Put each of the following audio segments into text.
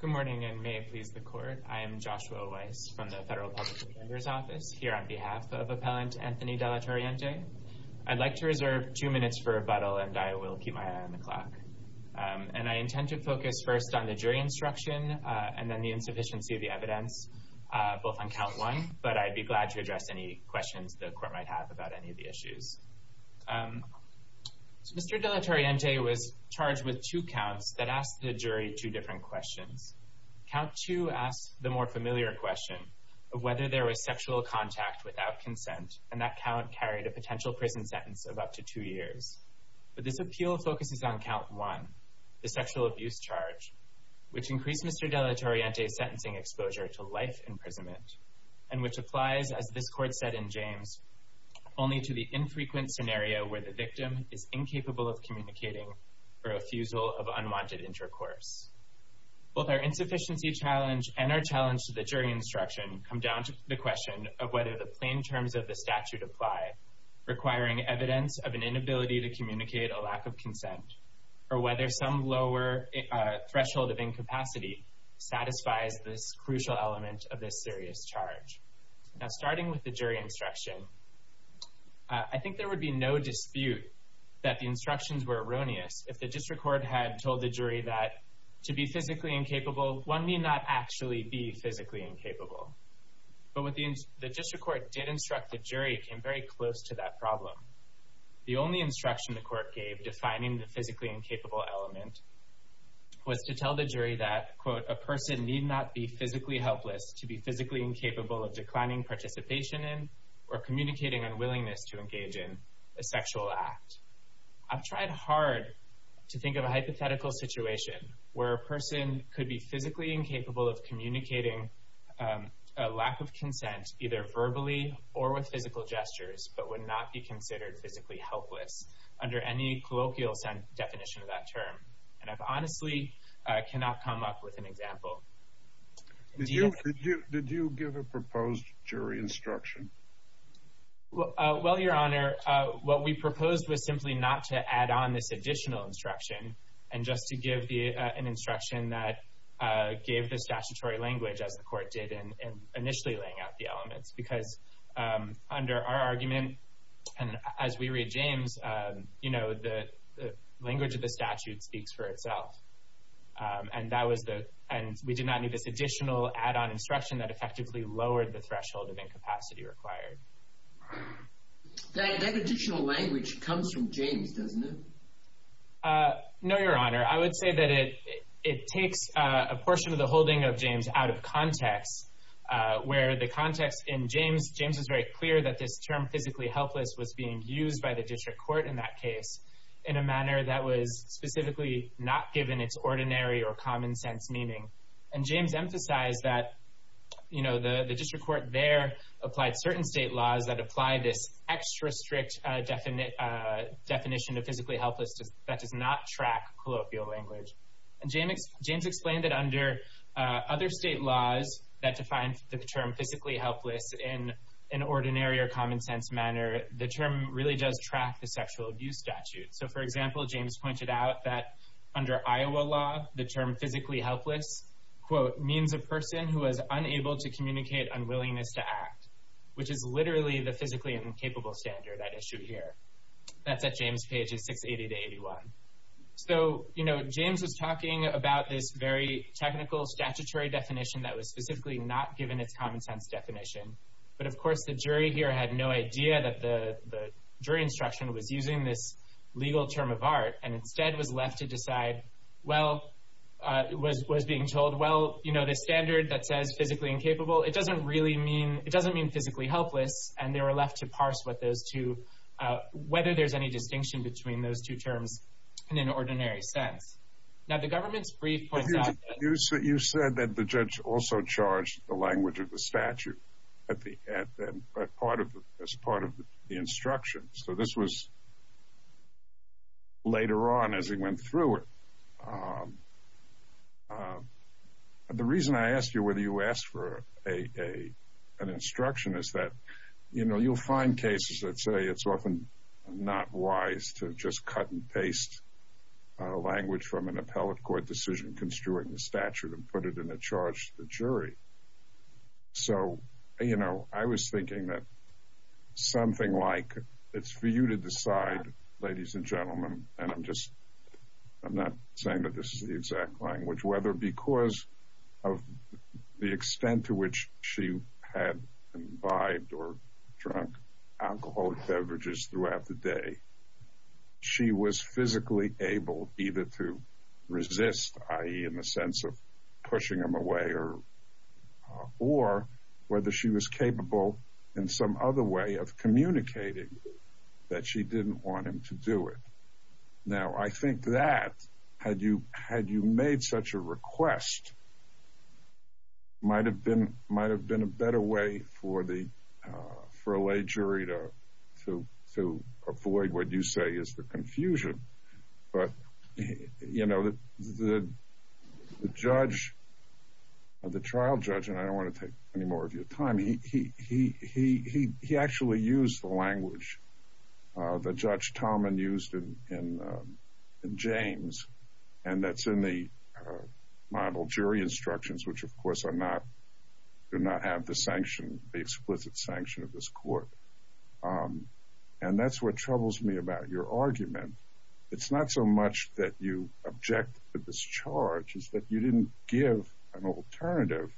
Good morning, and may it please the Court, I am Joshua Weiss from the Federal Public Defender's Office, here on behalf of Appellant Anthony De La Torriente. I'd like to reserve two minutes for rebuttal, and I will keep my eye on the clock. And I intend to focus first on the jury instruction and then the insufficiency of the evidence, both on Count 1, but I'd be glad to address any questions the Court might have about any of the issues. Mr. De La Torriente was charged with two counts that asked the jury two different questions. Count 2 asked the more familiar question of whether there was sexual contact without consent, and that count carried a potential prison sentence of up to two years. But this appeal focuses on Count 1, the sexual abuse charge, which increased Mr. De La Torriente's sentencing exposure to life imprisonment, and which applies, as this Court said in James, only to the infrequent scenario where the victim is incapable of communicating for refusal of unwanted intercourse. Both our insufficiency challenge and our challenge to the jury instruction come down to the question of whether the plain terms of the statute apply, requiring evidence of an inability to communicate a lack of consent, or whether some lower threshold of incapacity satisfies this crucial element of this serious charge. Now, starting with the jury instruction, I think there would be no dispute that the instructions were erroneous if the district court had told the jury that, to be physically incapable, one may not actually be physically incapable. But what the district court did instruct the jury came very close to that problem. The only instruction the court gave defining the physically incapable element was to tell the jury that, quote, a person need not be physically helpless to be physically incapable of declining participation in or communicating unwillingness to engage in a sexual act. I've tried hard to think of a hypothetical situation where a person could be physically incapable of communicating a lack of consent either verbally or with physical gestures, but would not be considered physically helpless under any colloquial definition of that term. And I honestly cannot come up with an example. Did you give a proposed jury instruction? Well, Your Honor, what we proposed was simply not to add on this additional instruction and just to give an instruction that gave the statutory language, as the court did in initially laying out the elements. Because under our argument, and as we read James, you know, the language of the statute speaks for itself. And we did not need this additional add-on instruction that effectively lowered the threshold of incapacity required. That additional language comes from James, doesn't it? No, Your Honor. I would say that it takes a portion of the holding of James out of context, where the context in James, James was very clear that this term physically helpless was being used by the district court in that case in a manner that was specifically not given its ordinary or common sense meaning. And James emphasized that, you know, the district court there applied certain state laws that apply this extra strict definition of physically helpless that does not track colloquial language. And James explained that under other state laws that define the term physically helpless in an ordinary or common sense manner, the term really does track the sexual abuse statute. So, for example, James pointed out that under Iowa law, the term physically helpless, quote, means a person who is unable to communicate unwillingness to act, which is literally the physically incapable standard at issue here. That's at James pages 680 to 81. So, you know, James was talking about this very technical statutory definition that was specifically not given its common sense definition. But, of course, the jury here had no idea that the jury instruction was using this legal term of art and instead was left to decide, well, it was being told, well, you know, the standard that says physically incapable, it doesn't really mean it doesn't mean physically helpless. And they were left to parse what those two whether there's any distinction between those two terms in an ordinary sense. Now, the government's brief. You said that the judge also charged the language of the statute at the part of as part of the instruction. So this was later on as he went through it. The reason I asked you whether you asked for a an instruction is that, you know, you'll find cases that say it's often not wise to just cut and paste language from an appellate court decision, construing the statute and put it in a charge to the jury. So, you know, I was thinking that something like it's for you to decide, ladies and gentlemen, and I'm just I'm not saying that this is the exact language, whether because of the extent to which she had bribed or drunk alcohol beverages throughout the day. She was physically able either to resist, i.e., in the sense of pushing him away or, or whether she was capable in some other way of communicating that she didn't want him to do it. Now, I think that had you had you made such a request. Might have been might have been a better way for the for a jury to to to avoid what you say is the confusion. But, you know, the judge of the trial judge and I don't want to take any more of your time. He he he he he actually used the language the judge Tom and used him in James. And that's in the model jury instructions, which, of course, are not do not have the sanction, the explicit sanction of this court. And that's what troubles me about your argument. It's not so much that you object to this charge is that you didn't give an alternative.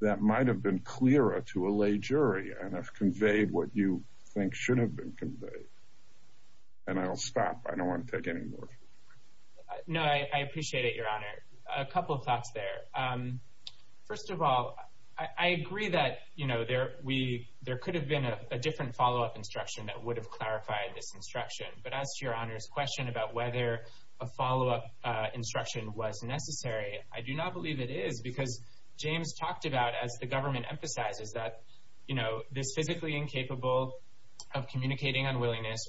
That might have been clearer to a lay jury and have conveyed what you think should have been conveyed. And I'll stop. I don't want to take any more. No, I appreciate it, Your Honor. A couple of thoughts there. First of all, I agree that, you know, there we there could have been a different follow up instruction that would have clarified this instruction. But as to your honor's question about whether a follow up instruction was necessary. I do not believe it is because James talked about as the government emphasizes that, you know, this physically incapable of communicating unwillingness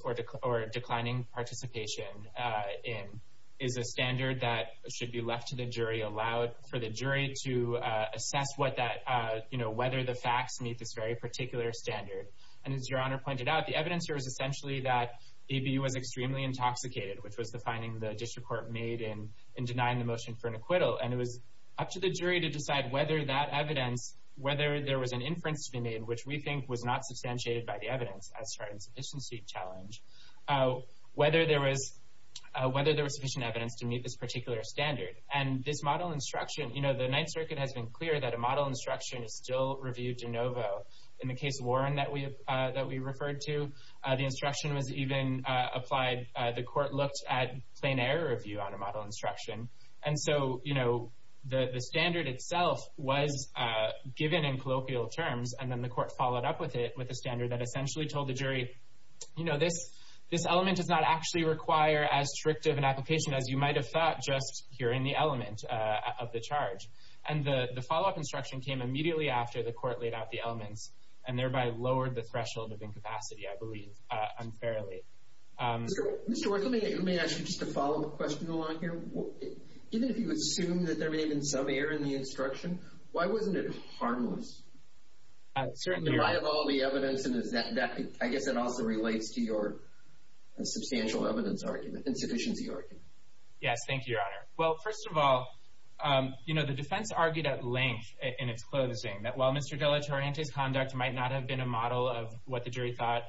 or declining participation in is a standard that should be left to the jury, allowed for the jury to assess what that you know, whether the facts meet this very particular standard. And as your honor pointed out, the evidence here is essentially that he was extremely intoxicated, which was the finding the district court made in in denying the motion for an acquittal. And it was up to the jury to decide whether that evidence, whether there was an inference to be made, which we think was not substantiated by the evidence. challenge, whether there was whether there was sufficient evidence to meet this particular standard. And this model instruction, you know, the Ninth Circuit has been clear that a model instruction is still reviewed de novo. In the case of Warren that we that we referred to, the instruction was even applied. The court looked at plain error review on a model instruction. And so, you know, the standard itself was given in colloquial terms. And then the court followed up with it with a standard that essentially told the jury, you know, this, this element does not actually require as strict of an application as you might have thought, just here in the element of the charge. And the follow up instruction came immediately after the court laid out the elements and thereby lowered the threshold of incapacity, I believe, unfairly. Mr. Worth, let me ask you just to follow the question along here. Even if you assume that there may have been some error in the instruction, why wasn't it harmless? Certainly. Am I of all the evidence, and is that, I guess that also relates to your substantial evidence argument, insufficiency argument. Yes, thank you, Your Honor. Well, first of all, you know, the defense argued at length in its closing that while Mr. De La Torrente's conduct might not have been a model of what the jury thought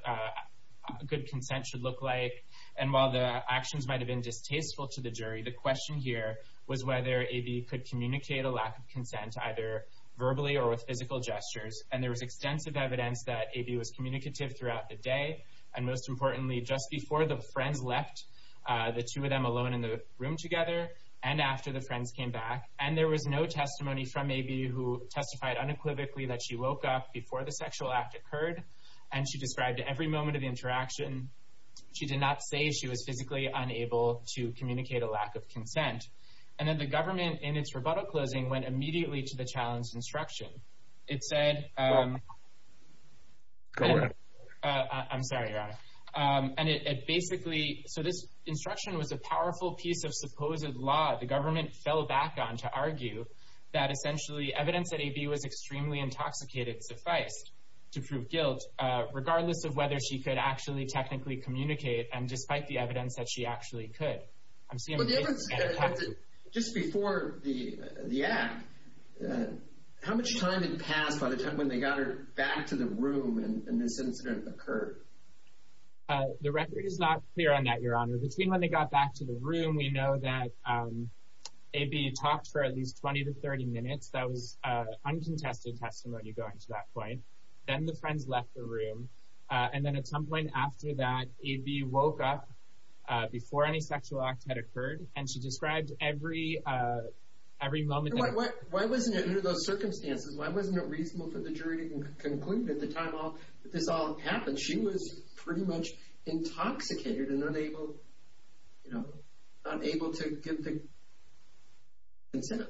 good consent should look like. And while the actions might have been distasteful to the jury, the question here was whether AB could communicate a lack of consent either verbally or with physical gestures. And there was extensive evidence that AB was communicative throughout the day. And most importantly, just before the friends left, the two of them alone in the room together, and after the friends came back. And there was no testimony from AB who testified unequivocally that she woke up before the sexual act occurred. And she described every moment of the interaction. She did not say she was physically unable to communicate a lack of consent. And then the government, in its rebuttal closing, went immediately to the challenged instruction. It said... Go ahead. I'm sorry, Your Honor. And it basically... So this instruction was a powerful piece of supposed law the government fell back on to argue that essentially evidence that AB was extremely intoxicated sufficed to prove guilt, regardless of whether she could actually technically communicate, and despite the evidence that she actually could. Just before the act, how much time had passed by the time when they got her back to the room and this incident occurred? The record is not clear on that, Your Honor. Between when they got back to the room, we know that AB talked for at least 20 to 30 minutes. That was uncontested testimony going to that point. Then the friends left the room. And then at some point after that, AB woke up before any sexual act had occurred, and she described every moment... Why wasn't it under those circumstances? Why wasn't it reasonable for the jury to conclude at the time that this all happened? She was pretty much intoxicated and unable to give the consent.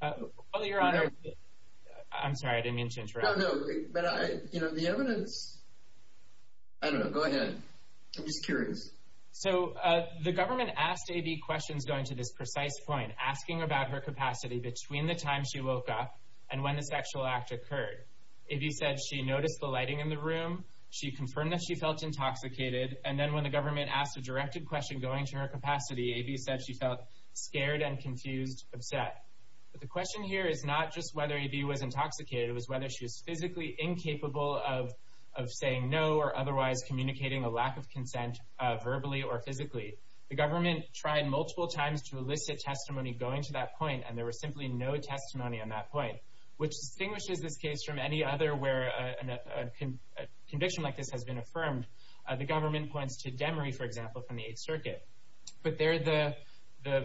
Well, Your Honor... I'm sorry, I didn't mean to interrupt. I don't know. The evidence... I don't know. Go ahead. I'm just curious. So the government asked AB questions going to this precise point, asking about her capacity between the time she woke up and when the sexual act occurred. AB said she noticed the lighting in the room. She confirmed that she felt intoxicated. And then when the government asked a directed question going to her capacity, AB said she felt scared and confused, upset. But the question here is not just whether AB was intoxicated. It was whether she was physically incapable of saying no or otherwise communicating a lack of consent verbally or physically. The government tried multiple times to elicit testimony going to that point, and there was simply no testimony on that point, which distinguishes this case from any other where a conviction like this has been affirmed. The government points to Demery, for example, from the Eighth Circuit. But there the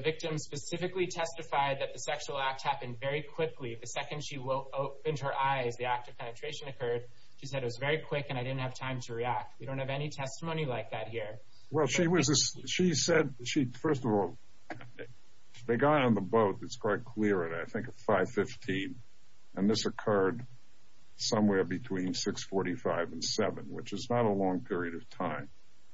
victim specifically testified that the sexual act happened very quickly. The second she opened her eyes, the act of penetration occurred. She said it was very quick and I didn't have time to react. We don't have any testimony like that here. Well, she said she, first of all, they got on the boat. It's quite clear. I think it's 515. And this occurred somewhere between 645 and 7, which is not a long period of time.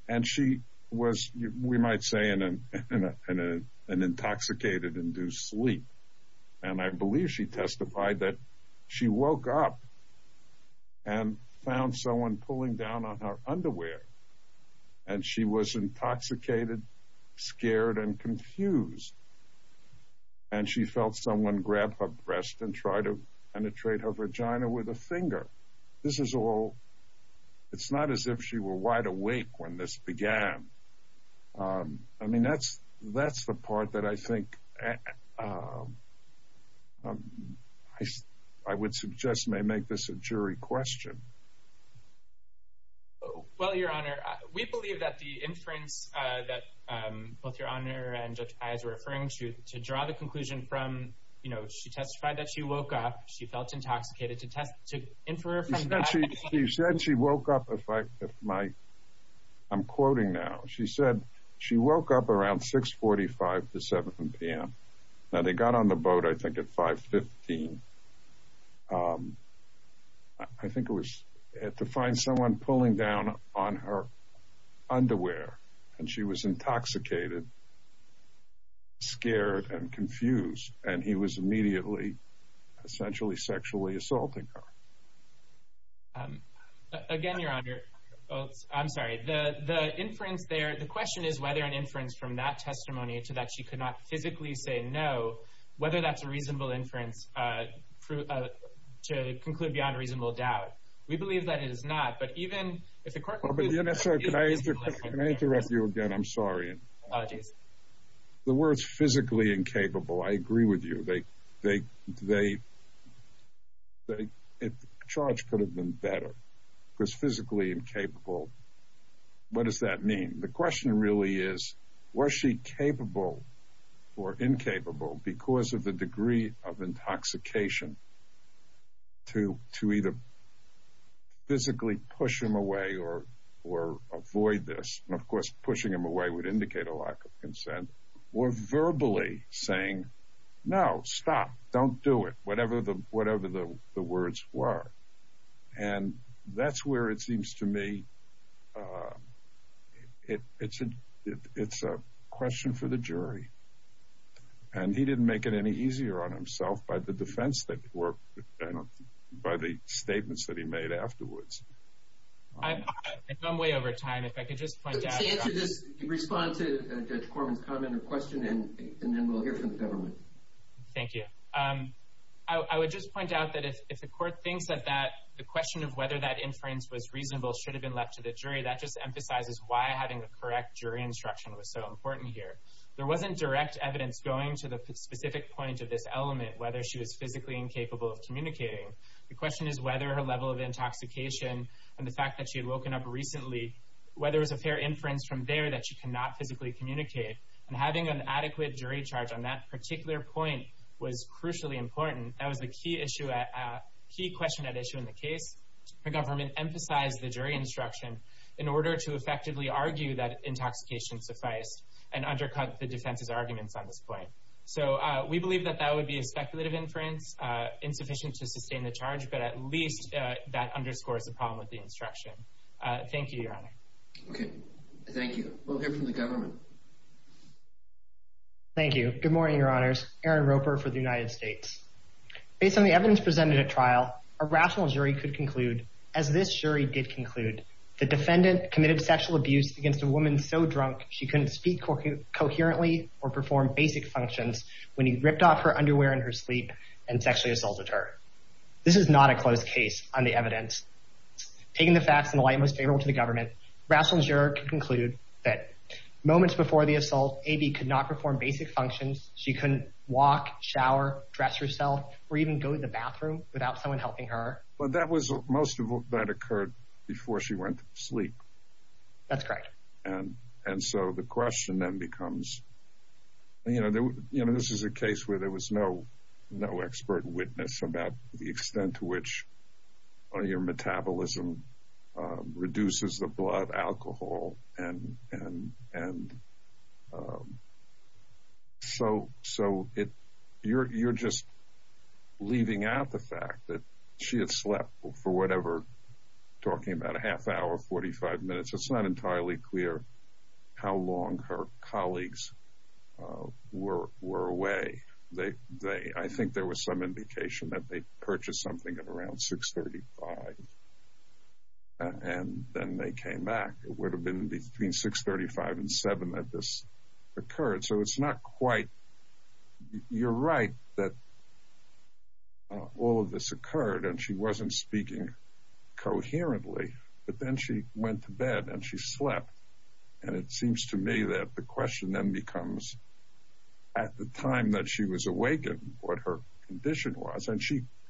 And she was, we might say, in an intoxicated, in due sleep. And I believe she testified that she woke up and found someone pulling down on her underwear. And she was intoxicated, scared, and confused. And she felt someone grab her breast and try to penetrate her vagina with a finger. This is all, it's not as if she were wide awake when this began. I mean, that's the part that I think I would suggest may make this a jury question. Well, Your Honor, we believe that the inference that both Your Honor and Judge Pais were referring to, to draw the conclusion from, you know, she testified that she woke up, she felt intoxicated, to infer from that. She said she woke up, if I, if my, I'm quoting now. She said she woke up around 645 to 7 p.m. Now, they got on the boat, I think, at 515. I think it was to find someone pulling down on her underwear. And she was intoxicated, scared, and confused. And he was immediately essentially sexually assaulting her. Again, Your Honor, I'm sorry. The inference there, the question is whether an inference from that testimony to that she could not physically say no, whether that's a reasonable inference to conclude beyond reasonable doubt. We believe that it is not. But even if the court concludes that it is a reasonable inference. Can I interrupt you again? I'm sorry. Apologies. The words physically incapable, I agree with you. They, they, they, the charge could have been better. Because physically incapable, what does that mean? The question really is, was she capable or incapable because of the degree of intoxication to, to either physically push him away or, or avoid this? And, of course, pushing him away would indicate a lack of consent. Or verbally saying, no, stop, don't do it. Whatever the, whatever the words were. And that's where it seems to me it, it's a, it's a question for the jury. And he didn't make it any easier on himself by the defense that he worked, by the statements that he made afterwards. I've gone way over time. If I could just point out. To answer this, respond to Judge Corman's comment or question, and then we'll hear from the government. Thank you. I would just point out that if, if the court thinks that that, the question of whether that inference was reasonable should have been left to the jury, that just emphasizes why having the correct jury instruction was so important here. There wasn't direct evidence going to the specific point of this element, whether she was physically incapable of communicating. The question is whether her level of intoxication, and the fact that she had woken up recently, whether it was a fair inference from there that she cannot physically communicate. And having an adequate jury charge on that particular point was crucially important. That was the key issue, key question at issue in the case. The government emphasized the jury instruction in order to effectively argue that intoxication sufficed, and undercut the defense's arguments on this point. So we believe that that would be a speculative inference, insufficient to sustain the charge, but at least that underscores the problem with the instruction. Thank you, Your Honor. Okay. Thank you. We'll hear from the government. Thank you. Good morning, Your Honors. Aaron Roper for the United States. Based on the evidence presented at trial, a rational jury could conclude, as this jury did conclude, the defendant committed sexual abuse against a woman so drunk she couldn't speak coherently or perform basic functions when he ripped off her underwear in her sleep and sexually assaulted her. This is not a closed case on the evidence. Taking the facts in the light most favorable to the government, rational juror could conclude that moments before the assault, A.B. could not perform basic functions. She couldn't walk, shower, dress herself, or even go to the bathroom without someone helping her. But that was most of what occurred before she went to sleep. That's correct. And so the question then becomes, you know, this is a case where there was no expert witness about the extent to which your metabolism reduces the blood alcohol. And so you're just leaving out the fact that she had slept for whatever, talking about a half hour, 45 minutes. It's not entirely clear how long her colleagues were away. I think there was some indication that they purchased something at around 6.35 and then they came back. It would have been between 6.35 and 7 that this occurred. So it's not quite you're right that all of this occurred and she wasn't speaking coherently. But then she went to bed and she slept. And it seems to me that the question then becomes, at the time that she was awakened, what her condition was. And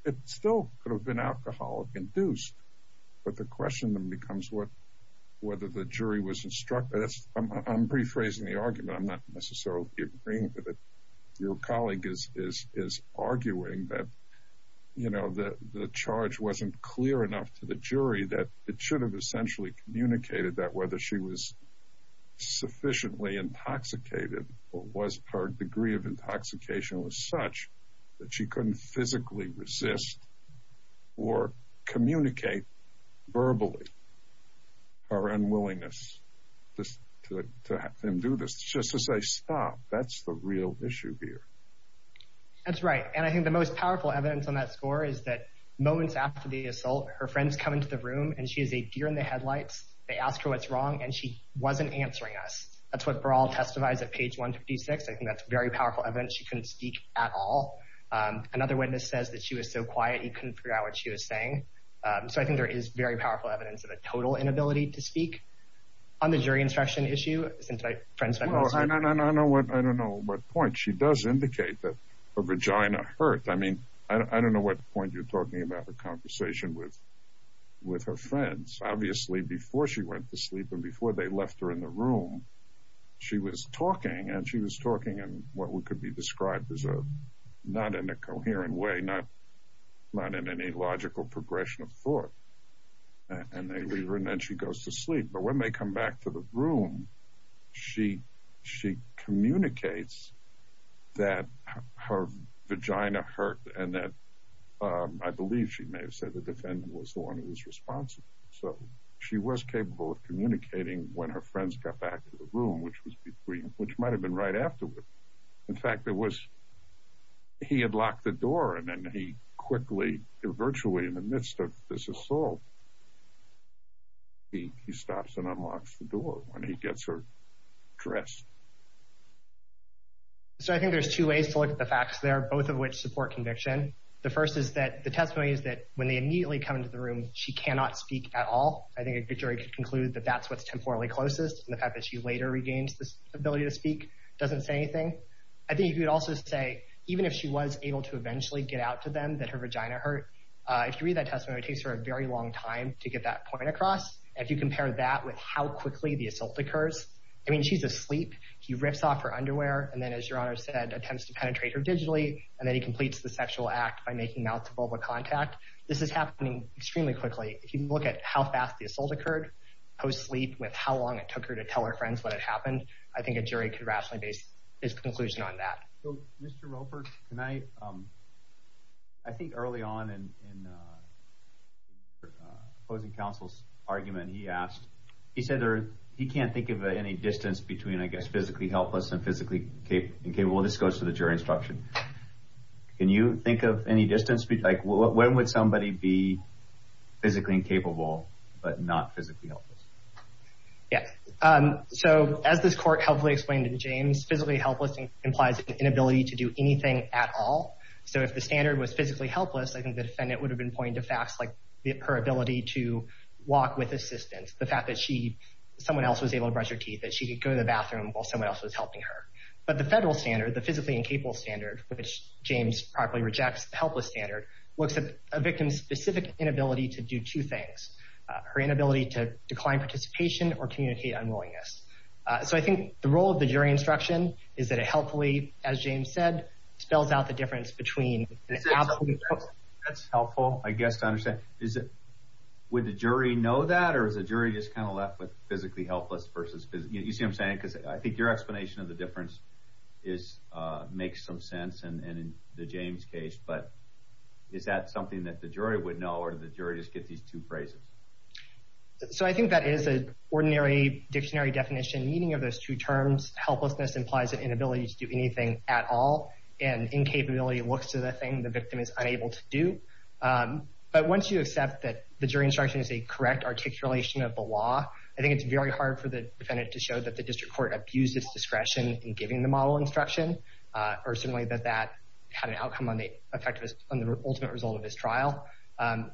it still could have been alcoholic-induced. But the question then becomes whether the jury was instructed. I'm rephrasing the argument. I'm not necessarily agreeing with it. Your colleague is arguing that, you know, the charge wasn't clear enough to the jury that it should have essentially communicated that whether she was sufficiently intoxicated or was her degree of intoxication was such that she couldn't physically resist or communicate verbally her unwillingness to have him do this. Just to say, stop, that's the real issue here. That's right. And I think the most powerful evidence on that score is that moments after the assault, her friends come into the room and she is a deer in the headlights. They ask her what's wrong and she wasn't answering us. That's what Baral testified at page 156. I think that's very powerful evidence she couldn't speak at all. Another witness says that she was so quiet, he couldn't figure out what she was saying. So I think there is very powerful evidence of a total inability to speak. On the jury instruction issue, since my friends said most of it. I don't know what point. She does indicate that her vagina hurt. I mean, I don't know what point you're talking about the conversation with her friends. Obviously, before she went to sleep and before they left her in the room, she was talking and she was talking in what could be described as not in a coherent way, not in any logical progression of thought. And then she goes to sleep. But when they come back to the room, she communicates that her vagina hurt and that I believe she may have said the defendant was the one who was responsible. So she was capable of communicating when her friends got back to the room, which might have been right afterward. In fact, he had locked the door and then he quickly, virtually in the midst of this assault, he stops and unlocks the door when he gets her dressed. So I think there's two ways to look at the facts there, both of which support conviction. The first is that the testimony is that when they immediately come into the room, she cannot speak at all. I think a jury could conclude that that's what's temporally closest, and the fact that she later regains this ability to speak doesn't say anything. I think you could also say even if she was able to eventually get out to them that her vagina hurt, if you read that testimony, it takes her a very long time to get that point across. If you compare that with how quickly the assault occurs, I mean, she's asleep. He rips off her underwear and then, as Your Honor said, attempts to penetrate her digitally, and then he completes the sexual act by making mouth-to-vulva contact. This is happening extremely quickly. If you look at how fast the assault occurred post-sleep with how long it took her to tell her friends what had happened, I think a jury could rationally base its conclusion on that. Mr. Roper, I think early on in opposing counsel's argument, he said he can't think of any distance between physically helpless and physically incapable. This goes to the jury instruction. Can you think of any distance? When would somebody be physically incapable but not physically helpless? Yes. As this court helpfully explained in James, physically helpless implies an inability to do anything at all. So if the standard was physically helpless, I think the defendant would have been pointing to facts like her ability to walk with assistance, the fact that someone else was able to brush her teeth, that she could go to the bathroom while someone else was helping her. But the federal standard, the physically incapable standard, which James probably rejects, the helpless standard, looks at a victim's specific inability to do two things, her inability to decline participation or communicate unwillingness. So I think the role of the jury instruction is that it helpfully, as James said, spells out the difference between an absolutely helpless... That's helpful, I guess, to understand. Would the jury know that, or is the jury just kind of left with physically helpless versus physically... You see what I'm saying? Because I think your explanation of the difference makes some sense in the James case. But is that something that the jury would know, or did the jury just get these two phrases? So I think that is an ordinary dictionary definition, meaning of those two terms. Helplessness implies an inability to do anything at all, and incapability looks to the thing the victim is unable to do. But once you accept that the jury instruction is a correct articulation of the law, I think it's very hard for the defendant to show that the district court abused its discretion in giving the model instruction, or certainly that that had an outcome on the ultimate result of this trial.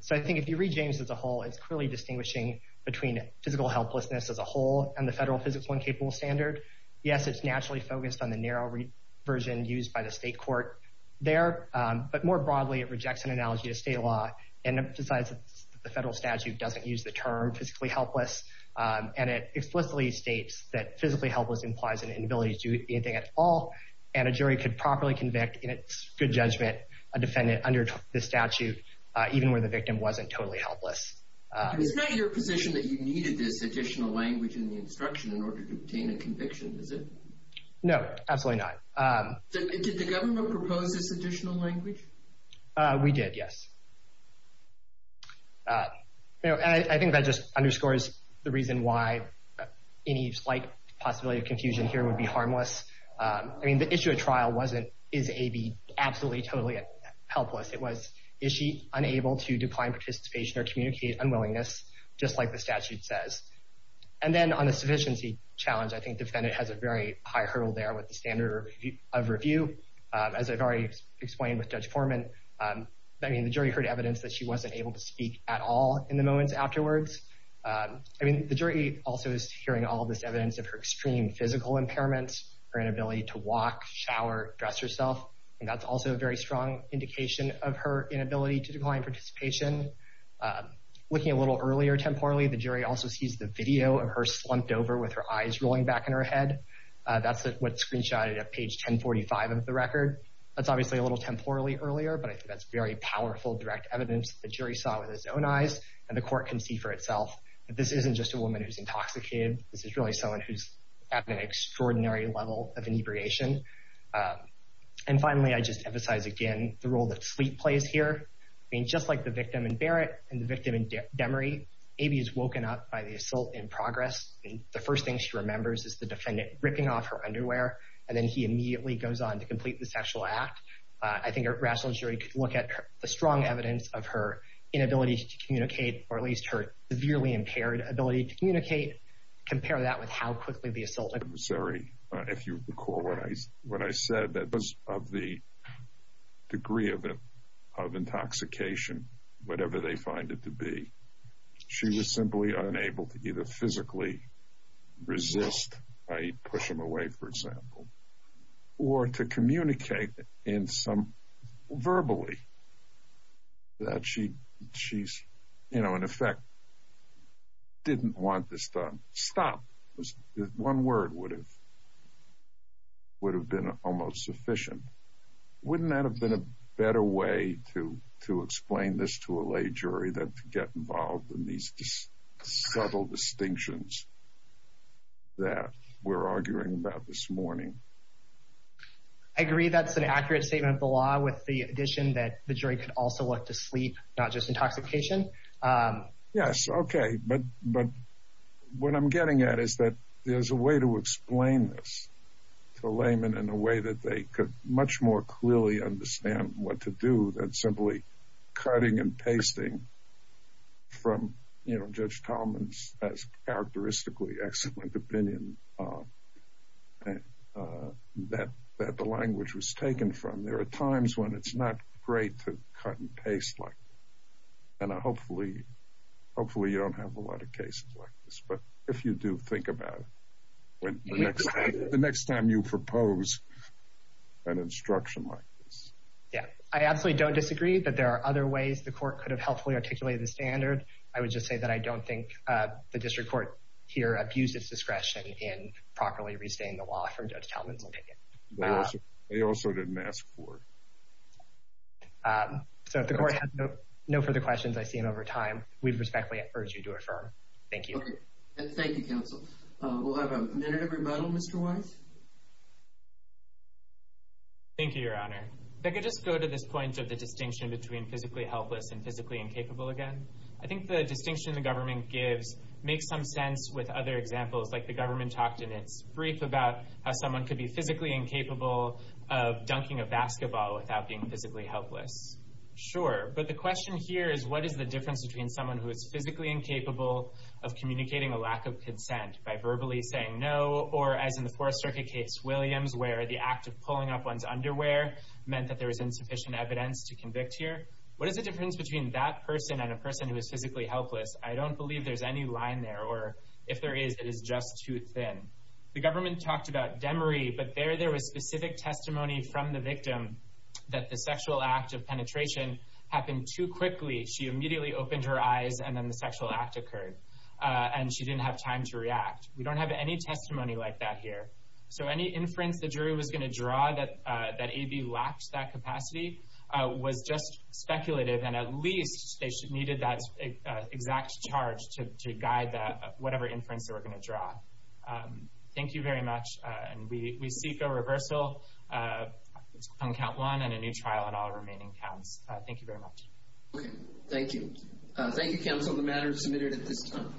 So I think if you read James as a whole, it's clearly distinguishing between physical helplessness as a whole and the federal physical incapable standard. Yes, it's naturally focused on the narrow version used by the state court there, but more broadly, it rejects an analogy of state law and emphasizes that the federal statute doesn't use the term physically helpless, and it explicitly states that physically helpless implies an inability to do anything at all, and a jury could properly convict, in its good judgment, a defendant under this statute even where the victim wasn't totally helpless. It's not your position that you needed this additional language in the instruction in order to obtain a conviction, is it? No, absolutely not. Did the government propose this additional language? We did, yes. I think that just underscores the reason why any slight possibility of confusion here would be harmless. I mean, the issue at trial wasn't, is A B absolutely, totally helpless? It was, is she unable to decline participation or communicate unwillingness, just like the statute says? And then on the sufficiency challenge, I think the defendant has a very high hurdle there with the standard of review. As I've already explained with Judge Foreman, I mean, the jury heard evidence that she wasn't able to speak at all in the moments afterwards. I mean, the jury also is hearing all this evidence of her extreme physical impairments, her inability to walk, shower, dress herself, and that's also a very strong indication of her inability to decline participation. Looking a little earlier temporally, the jury also sees the video of her slumped over with her eyes rolling back in her head. That's what's screenshotted at page 1045 of the record. That's obviously a little temporally earlier, but I think that's very powerful direct evidence that the jury saw with its own eyes, and the court can see for itself that this isn't just a woman who's intoxicated. This is really someone who's at an extraordinary level of inebriation. And finally, I just emphasize again the role that sleep plays here. I mean, just like the victim in Barrett and the victim in Demery, Aby is woken up by the assault in progress, and the first thing she remembers is the defendant ripping off her underwear, and then he immediately goes on to complete the sexual act. I think a rational jury could look at the strong evidence of her inability to communicate, or at least her severely impaired ability to communicate, compare that with how quickly the assault occurred. If you recall what I said, that because of the degree of intoxication, whatever they find it to be, she was simply unable to either physically resist, i.e., push him away, for example, or to communicate in some... verbally. That she, in effect, didn't want this done. Stop. One word would have been almost sufficient. Wouldn't that have been a better way to explain this to a lay jury than to get involved in these subtle distinctions that we're arguing about this morning? I agree that's an accurate statement of the law with the addition that the jury could also look to sleep, not just intoxication. Yes, okay, but what I'm getting at is that there's a way to explain this to a layman in a way that they could much more clearly understand what to do than simply cutting and pasting from, you know, Judge Tolman's as characteristically excellent opinion that the language was taken from. And there are times when it's not great to cut and paste like that. And hopefully you don't have a lot of cases like this. But if you do, think about it the next time you propose an instruction like this. Yeah, I absolutely don't disagree that there are other ways the Court could have helpfully articulated the standard. I would just say that I don't think the District Court here abused its discretion in properly restating the law from Judge Tolman's opinion. They also didn't ask for it. So if the Court has no further questions, I see them over time. We respectfully urge you to affirm. Thank you. Thank you, counsel. We'll have a minute of rebuttal. Mr. Weiss? Thank you, Your Honor. If I could just go to this point of the distinction between physically helpless and physically incapable again. I think the distinction the government gives makes some sense with other examples, like the government talked in its brief about how someone could be physically incapable of dunking a basketball without being physically helpless. Sure, but the question here is what is the difference between someone who is physically incapable of communicating a lack of consent by verbally saying no or, as in the Fourth Circuit case, Williams, where the act of pulling up one's underwear meant that there was insufficient evidence to convict here. What is the difference between that person and a person who is physically helpless? I don't believe there's any line there, or if there is, it is just too thin. The government talked about Demery, but there there was specific testimony from the victim that the sexual act of penetration happened too quickly. She immediately opened her eyes, and then the sexual act occurred, and she didn't have time to react. We don't have any testimony like that here. So any inference the jury was going to draw that A.B. lacked that capacity was just speculative, and at least they needed that exact charge to guide whatever inference they were going to draw. Thank you very much. We seek a reversal on count one and a new trial on all remaining counts. Thank you very much. Okay, thank you. Thank you, counsel, on the matter submitted at this time.